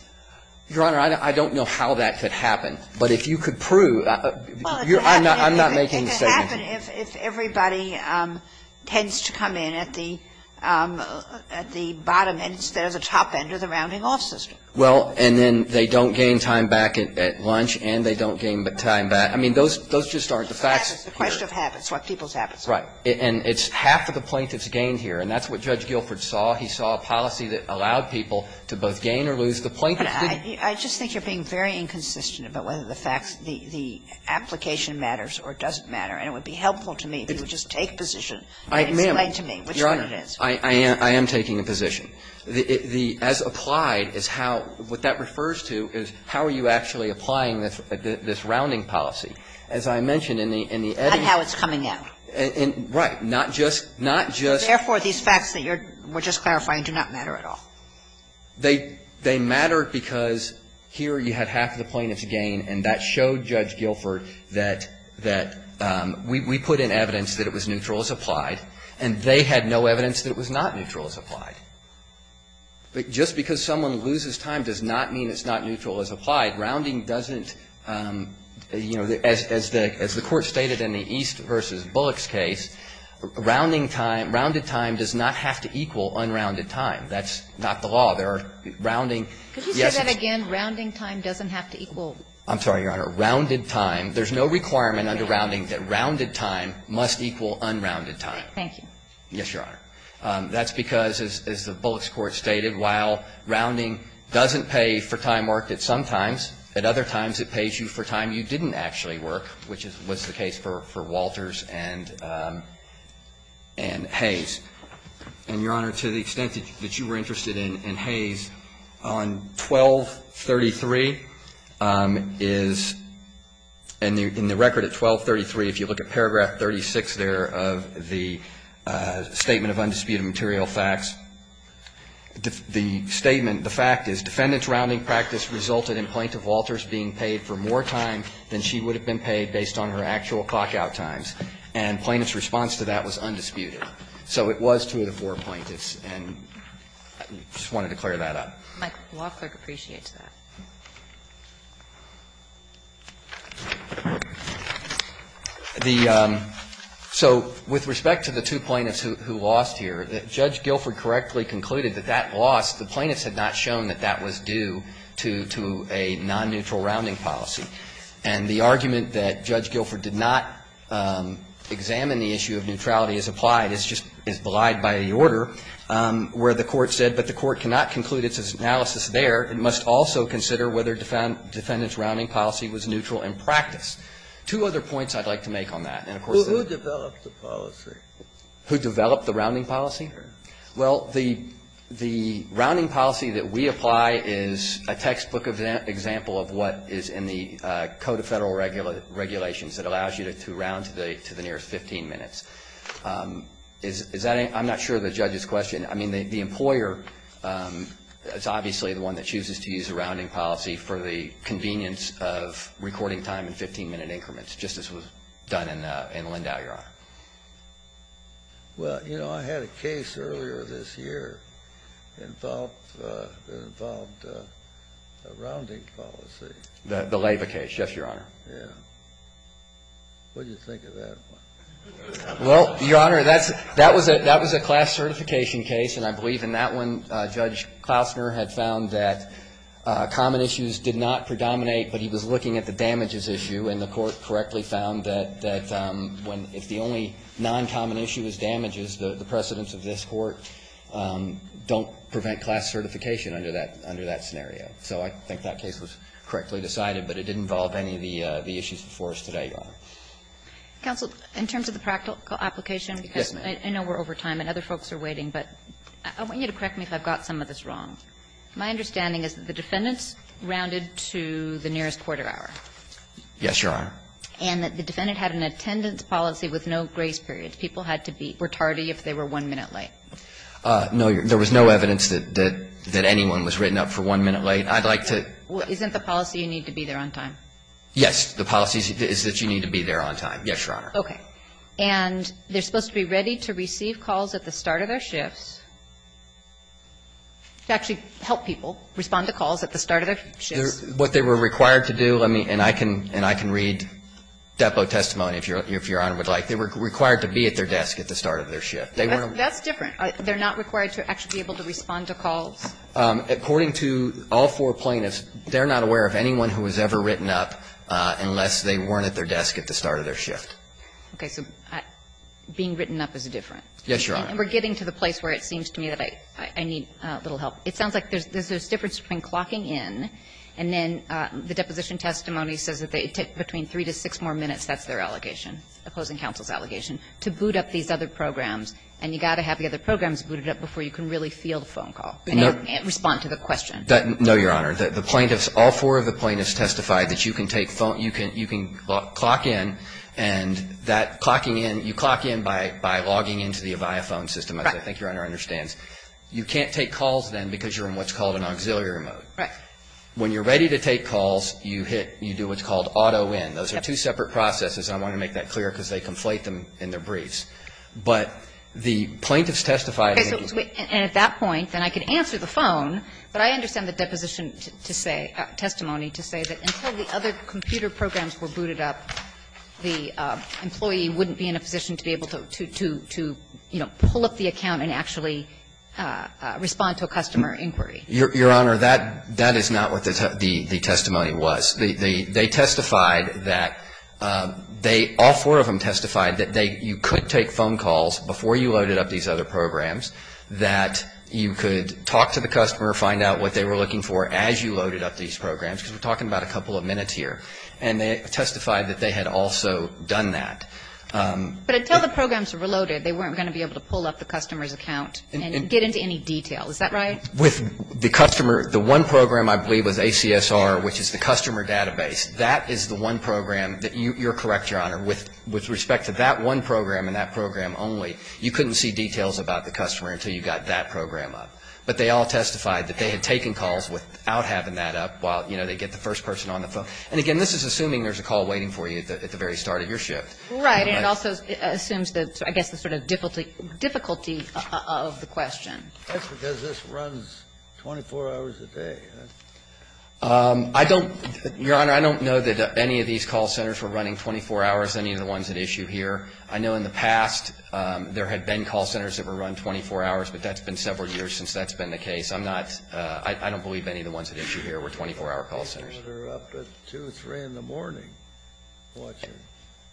Your Honor, I don't know how that could happen, but if you could prove – I'm not making a statement. Well, it could happen if everybody tends to come in at the – at the bottom and instead of the top end of the rounding-off system. Well, and then they don't gain time back at lunch and they don't gain time back – I mean, those just aren't the facts here. It's the question of habits, what people's habits are. Right. And it's half of the plaintiff's gain here, and that's what Judge Guilford saw. He saw a policy that allowed people to both gain or lose the plaintiff's gain. But I just think you're being very inconsistent about whether the facts – the application matters or doesn't matter, and it would be helpful to me if you would just take a position and explain to me which one it is. Your Honor, I am taking a position. The – as applied is how – what that refers to is how are you actually applying this rounding policy. As I mentioned in the – in the editing – On how it's coming out. Right. Not just – not just – But therefore, these facts that you're – were just clarifying do not matter at all. They – they matter because here you had half of the plaintiff's gain, and that showed Judge Guilford that – that we – we put in evidence that it was neutral as applied, and they had no evidence that it was not neutral as applied. Just because someone loses time does not mean it's not neutral as applied. Rounding doesn't – you know, as the – as the Court stated in the East v. Bullock's case, rounding time – rounded time does not have to equal unrounded time. That's not the law. There are rounding – yes, it's – Could you say that again? Rounding time doesn't have to equal – I'm sorry, Your Honor. Rounded time – there's no requirement under rounding that rounded time must equal unrounded time. Thank you. Yes, Your Honor. That's because, as the Bullock's court stated, while rounding doesn't pay for time worked at some times, at other times it pays you for time you didn't actually work, which is – was the case for – for Walters and – and Hayes. And, Your Honor, to the extent that you were interested in – in Hayes, on 1233 is – and in the record at 1233, if you look at paragraph 36 there of the Statement of Undisputed Material Facts, the statement – the fact is, defendant's rounding practice resulted in Plaintiff Walters being paid for more time than she would have been paid based on her actual clock-out times. And plaintiff's response to that was undisputed. So it was two of the four plaintiffs. And I just wanted to clear that up. Michael, the law clerk appreciates that. The – so with respect to the two plaintiffs who lost here, Judge Guilford correctly concluded that that loss, the plaintiffs had not shown that that was due. It was due to a non-neutral rounding policy. And the argument that Judge Guilford did not examine the issue of neutrality as applied is just – is belied by the order where the Court said, but the Court cannot conclude its analysis there. It must also consider whether defendant's rounding policy was neutral in practice. Two other points I'd like to make on that. And, of course, the – Who developed the policy? Who developed the rounding policy? Well, the – the rounding policy that we apply is a textbook example of what is in the Code of Federal Regulations that allows you to round to the nearest 15 minutes. Is that a – I'm not sure of the judge's question. I mean, the employer is obviously the one that chooses to use a rounding policy for the convenience of recording time in 15-minute increments, just as was done in Lindau, Your Honor. Well, you know, I had a case earlier this year involved – involved a rounding policy. The Lava case. Yes, Your Honor. Yeah. What did you think of that one? Well, Your Honor, that's – that was a – that was a class certification case, and I believe in that one, Judge Klausner had found that common issues did not predominate, but he was looking at the damages issue, and the Court correctly found that – that when – if the only non-common issue is damages, the precedents of this Court don't prevent class certification under that – under that scenario. So I think that case was correctly decided, but it didn't involve any of the issues before us today, Your Honor. Counsel, in terms of the practical application, because I know we're over time and other folks are waiting, but I want you to correct me if I've got some of this wrong. My understanding is that the defendants rounded to the nearest quarter hour. Yes, Your Honor. And that the defendant had an attendance policy with no grace period. People had to be – were tardy if they were one minute late. No. There was no evidence that – that anyone was written up for one minute late. I'd like to – Well, isn't the policy you need to be there on time? Yes. The policy is that you need to be there on time. Yes, Your Honor. Okay. And they're supposed to be ready to receive calls at the start of their shifts to actually help people respond to calls at the start of their shifts. What they were required to do, let me – and I can – and I can read depo testimony if Your Honor would like. They were required to be at their desk at the start of their shift. That's different. They're not required to actually be able to respond to calls? According to all four plaintiffs, they're not aware of anyone who was ever written up unless they weren't at their desk at the start of their shift. Okay. So being written up is different. Yes, Your Honor. And we're getting to the place where it seems to me that I need a little help. It sounds like there's a difference between clocking in, and then the deposition testimony says that it took between three to six more minutes, that's their allegation, opposing counsel's allegation, to boot up these other programs. And you've got to have the other programs booted up before you can really feel the phone call and respond to the question. No, Your Honor. The plaintiffs – all four of the plaintiffs testified that you can take phone – you can clock in, and that clocking in – you clock in by logging into the Avaya phone system, as I think Your Honor understands. Right. You can't take calls then because you're in what's called an auxiliary mode. Right. When you're ready to take calls, you hit – you do what's called auto-in. Those are two separate processes, and I want to make that clear because they conflate them in their briefs. But the plaintiffs testified – Okay. And at that point, then I could answer the phone, but I understand the deposition to say – testimony to say that until the other computer programs were booted up, the employee wouldn't be in a position to be able to, you know, pull up the customer's account and respond to a customer inquiry. Your Honor, that is not what the testimony was. They testified that they – all four of them testified that they – you could take phone calls before you loaded up these other programs, that you could talk to the customer, find out what they were looking for as you loaded up these programs, because we're talking about a couple of minutes here. And they testified that they had also done that. But until the programs were loaded, they weren't going to be able to pull up the phone and get into any detail. Is that right? With the customer – the one program I believe was ACSR, which is the customer database, that is the one program that you're correct, Your Honor, with respect to that one program and that program only, you couldn't see details about the customer until you got that program up. But they all testified that they had taken calls without having that up while, you know, they get the first person on the phone. And again, this is assuming there's a call waiting for you at the very start of your shift. Right. And it also assumes, I guess, the sort of difficulty of the question. That's because this runs 24 hours a day. I don't – Your Honor, I don't know that any of these call centers were running 24 hours, any of the ones at issue here. I know in the past there had been call centers that were run 24 hours, but that's been several years since that's been the case. I'm not – I don't believe any of the ones at issue here were 24-hour call centers. They're up at 2, 3 in the morning.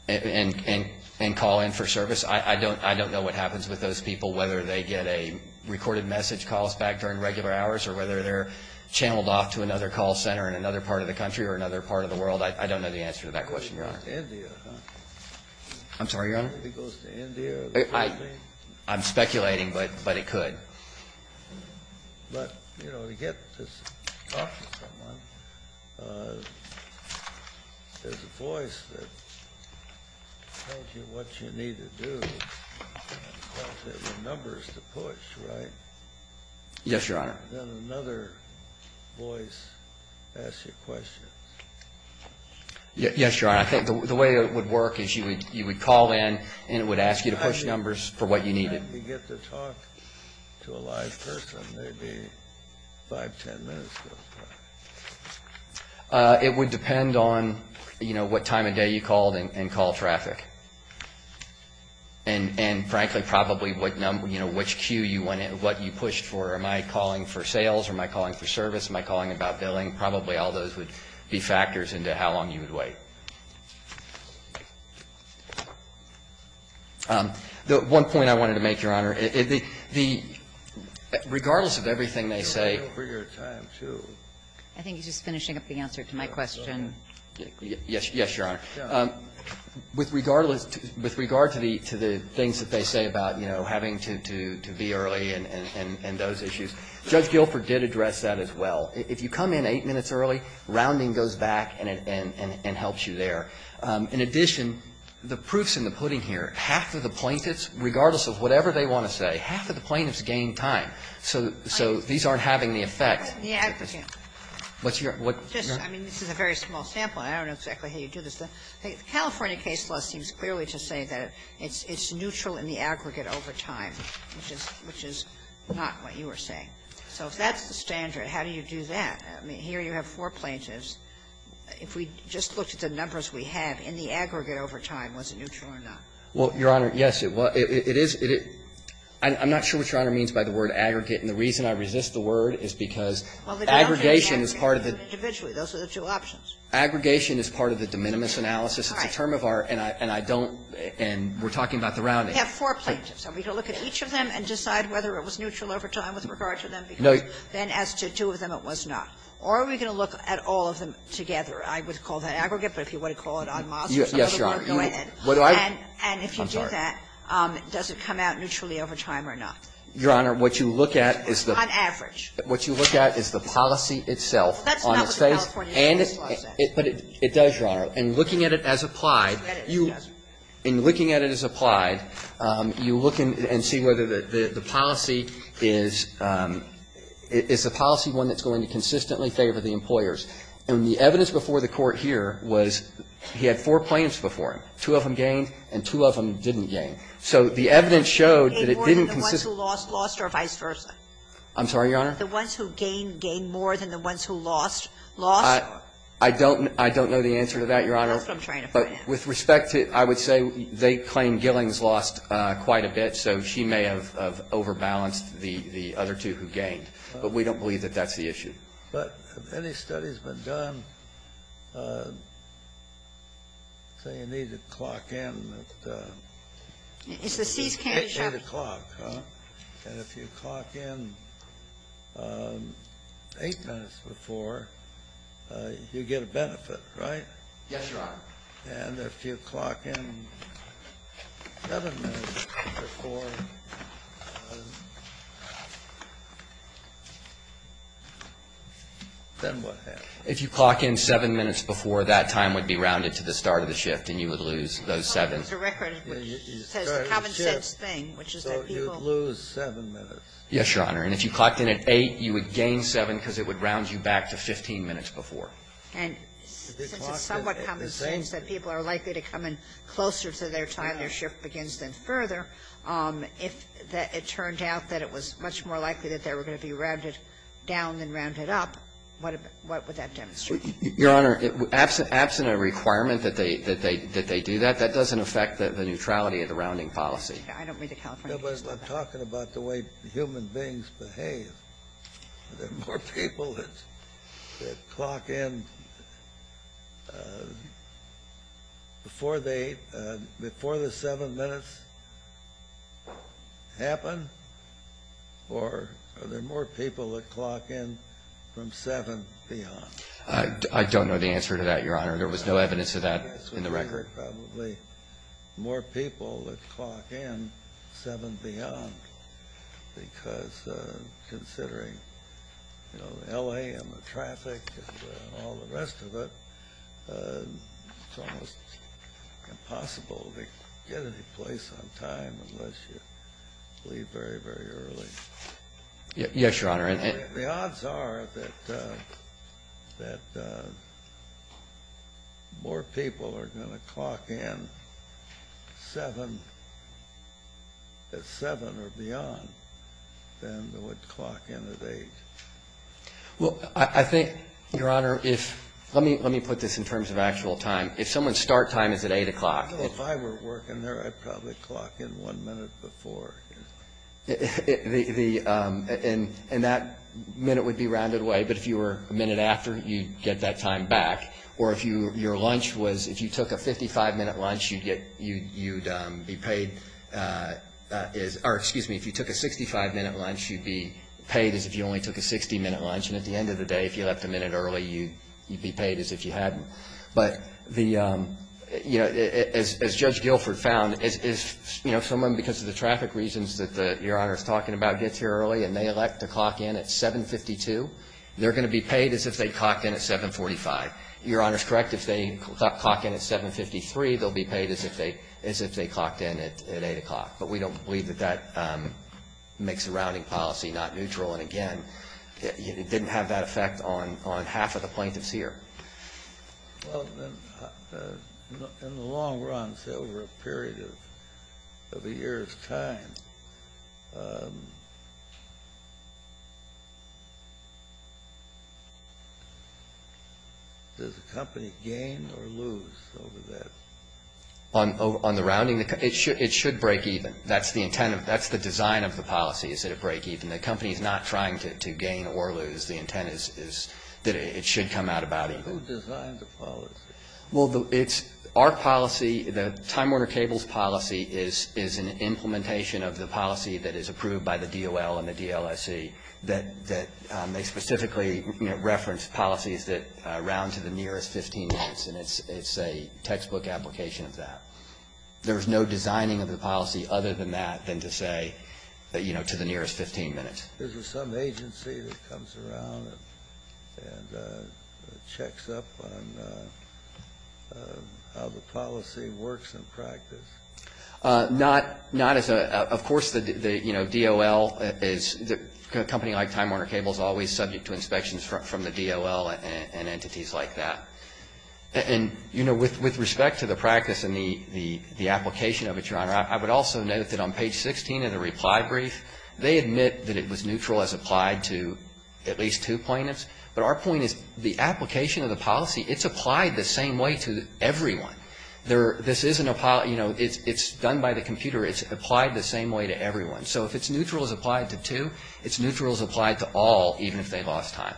And call in for service? I don't know what happens with those people, whether they get a recorded message call back during regular hours or whether they're channeled off to another call center in another part of the country or another part of the world. I don't know the answer to that question, Your Honor. It goes to India, huh? I'm sorry, Your Honor? It goes to India or something? I'm speculating, but it could. But, you know, to get to talk to someone, there's a voice that tells you what you need to do and tells you the numbers to push, right? Yes, Your Honor. Then another voice asks you questions. Yes, Your Honor. I think the way it would work is you would call in and it would ask you to push numbers for what you needed. How long do you get to talk to a live person? Maybe 5, 10 minutes goes by. It would depend on, you know, what time of day you called and call traffic. And, frankly, probably what number, you know, which queue you went in, what you pushed for. Am I calling for sales or am I calling for service? Am I calling about billing? Probably all those would be factors into how long you would wait. One point I wanted to make, Your Honor. Regardless of everything they say. I think he's just finishing up the answer to my question. Yes, Your Honor. With regard to the things that they say about, you know, having to be early and those issues, Judge Guilford did address that as well. If you come in 8 minutes early, rounding goes back and helps you there. In addition, the proof's in the pudding here. Half of the plaintiffs, regardless of whatever they want to say, half of the plaintiffs gain time. So these aren't having the effect. I mean, this is a very small sample. I don't know exactly how you do this. The California case law seems clearly to say that it's neutral in the aggregate over time, which is not what you were saying. So if that's the standard, how do you do that? I mean, here you have four plaintiffs. If we just looked at the numbers we have, in the aggregate over time, was it neutral or not? Well, Your Honor, yes. It is – I'm not sure what Your Honor means by the word aggregate. And the reason I resist the word is because aggregation is part of the – Well, the ground is aggregate, but individually. Those are the two options. Aggregation is part of the de minimis analysis. It's a term of our – and I don't – and we're talking about the rounding. You have four plaintiffs. Are we going to look at each of them and decide whether it was neutral over time with regard to them? No. Then as to two of them, it was not. Or are we going to look at all of them together? I would call that aggregate, but if you want to call it en masse or something, go ahead. Yes, Your Honor. And if you do that, does it come out neutrally over time or not? Your Honor, what you look at is the – On average. What you look at is the policy itself on its face. That's not what the California case law says. But it does, Your Honor. In looking at it as applied, you – That it doesn't. I would look and see whether the policy is – is the policy one that's going to consistently favor the employers. And the evidence before the Court here was he had four plaintiffs before him. Two of them gained and two of them didn't gain. So the evidence showed that it didn't consistently – Gained more than the ones who lost, lost, or vice versa? I'm sorry, Your Honor? The ones who gained, gained more than the ones who lost, lost? I don't – I don't know the answer to that, Your Honor. That's what I'm trying to find out. With respect to – I would say they claim Gillings lost quite a bit, so she may have overbalanced the other two who gained. But we don't believe that that's the issue. But have any studies been done – say you need to clock in at 8 o'clock, huh? And if you clock in eight minutes before, you get a benefit, right? Yes, Your Honor. And if you clock in seven minutes before, then what happens? If you clock in seven minutes before, that time would be rounded to the start of the shift and you would lose those seven. It's a record which says the common-sense thing, which is that people – So you'd lose seven minutes. Yes, Your Honor. And if you clocked in at 8, you would gain seven because it would round you back to 15 minutes before. And since it's somewhat common sense that people are likely to come in closer to their time, their shift begins then further, if it turned out that it was much more likely that they were going to be rounded down than rounded up, what would that demonstrate? Your Honor, absent a requirement that they do that, that doesn't affect the neutrality of the rounding policy. I don't mean the California case. No, but I'm talking about the way human beings behave. Are there more people that clock in before the seven minutes happen? Or are there more people that clock in from seven beyond? I don't know the answer to that, Your Honor. There was no evidence of that in the record. There are probably more people that clock in seven beyond because considering LA and the traffic and all the rest of it, it's almost impossible to get any place on time unless you leave very, very early. Yes, Your Honor. The odds are that more people are going to clock in at seven or beyond than would clock in at eight. Well, I think, Your Honor, let me put this in terms of actual time. If someone's start time is at eight o'clock. If I were working there, I'd probably clock in one minute before. And that minute would be rounded away. But if you were a minute after, you'd get that time back. Or if your lunch was, if you took a 55-minute lunch, you'd be paid as, or excuse me, if you took a 65-minute lunch, you'd be paid as if you only took a 60-minute lunch. And at the end of the day, if you left a minute early, you'd be paid as if you hadn't. But the, you know, as Judge Guilford found, if someone, because of the traffic reasons that Your Honor is talking about, gets here early and they elect to clock in at 752, they're going to be paid as if they clocked in at 745. Your Honor is correct. If they clock in at 753, they'll be paid as if they clocked in at eight o'clock. But we don't believe that that makes the rounding policy not neutral. And again, it didn't have that effect on half of the plaintiffs here. Well, then, in the long run, say over a period of a year's time, does the company gain or lose over that? On the rounding, it should break even. That's the intent of, that's the design of the policy, is that it break even. The company is not trying to gain or lose. The intent is that it should come out about even. Who designed the policy? Well, it's our policy. The Time Warner Cable's policy is an implementation of the policy that is approved by the DOL and the DLSC that they specifically reference policies that round to the nearest 15 minutes. And it's a textbook application of that. There is no designing of the policy other than that than to say, you know, to the nearest 15 minutes. Is there some agency that comes around and checks up on how the policy works in practice? Not as a of course the, you know, DOL is, a company like Time Warner Cable is always subject to inspections from the DOL and entities like that. And, you know, with respect to the practice and the application of it, Your Honor, I would also note that on page 16 of the reply brief, they admit that it was neutral as applied to at least two plaintiffs. But our point is the application of the policy, it's applied the same way to everyone. There, this isn't a, you know, it's done by the computer. It's applied the same way to everyone. So if it's neutral as applied to two, it's neutral as applied to all, even if they lost time.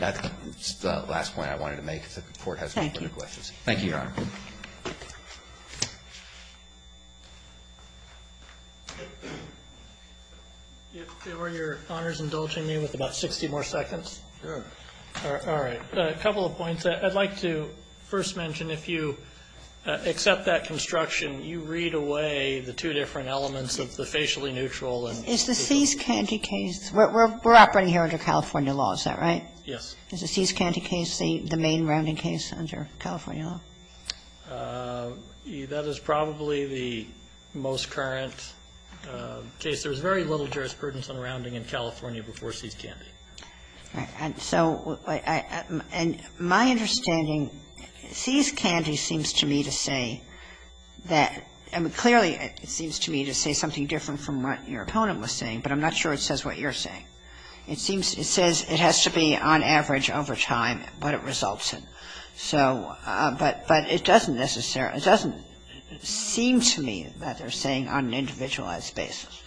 That's the last point I wanted to make. The Court has no further questions. Thank you, Your Honor. Are Your Honors indulging me with about 60 more seconds? Sure. All right. A couple of points. I'd like to first mention, if you accept that construction, you read away the two different elements of the facially neutral and. Is the Cease Candy case, we're operating here under California law, is that right? Yes. Is the Cease Candy case the main rounding case under California law? Yes. That is probably the most current case. There was very little jurisprudence on rounding in California before Cease Candy. All right. So my understanding, Cease Candy seems to me to say that, I mean, clearly it seems to me to say something different from what your opponent was saying, but I'm not sure it says what you're saying. It seems, it says it has to be on average over time what it results in. So, but it doesn't necessarily, it doesn't seem to me that they're saying on an individualized basis.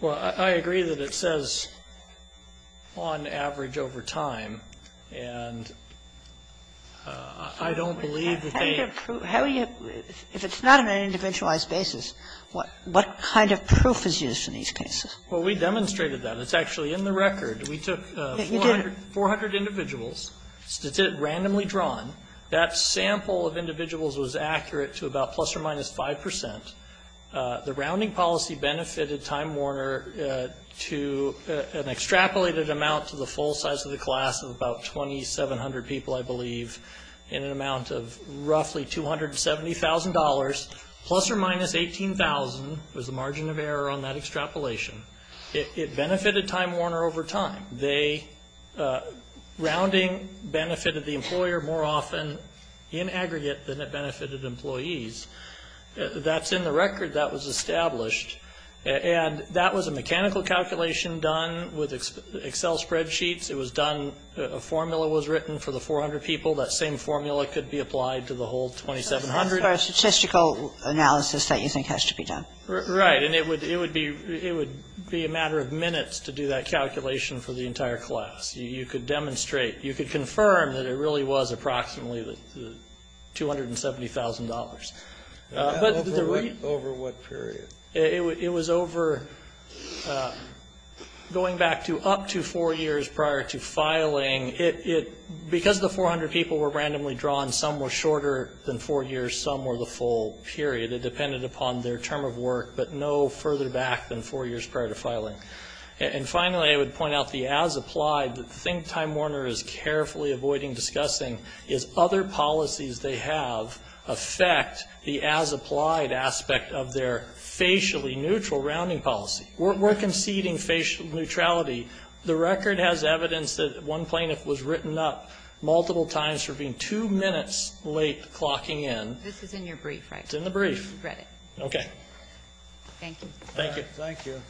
Well, I agree that it says on average over time, and I don't believe that they. How do you, if it's not on an individualized basis, what kind of proof is used in these cases? Well, we demonstrated that. It's actually in the record. We took 400 individuals, randomly drawn. That sample of individuals was accurate to about plus or minus 5%. The rounding policy benefited Time Warner to an extrapolated amount to the full size of the class of about 2,700 people, I believe, in an amount of roughly $270,000, plus or minus $18,000 was the margin of error on that extrapolation. It benefited Time Warner over time. They, rounding benefited the employer more often in aggregate than it benefited employees. That's in the record. That was established. And that was a mechanical calculation done with Excel spreadsheets. It was done, a formula was written for the 400 people. That same formula could be applied to the whole 2,700. So it's a statistical analysis that you think has to be done. Right. And it would be a matter of minutes to do that calculation for the entire class. You could demonstrate, you could confirm that it really was approximately $270,000. Over what period? It was over, going back to up to four years prior to filing. Because the 400 people were randomly drawn, some were shorter than four years, some were the full period. It depended upon their term of work, but no further back than four years prior to filing. And finally, I would point out the as applied that I think Time Warner is carefully avoiding discussing is other policies they have affect the as applied aspect of their facially neutral rounding policy. We're conceding facial neutrality. The record has evidence that one plaintiff was written up multiple times for being two minutes late clocking in. This is in your brief, right? It's in the brief. Okay. Thank you. Thank you.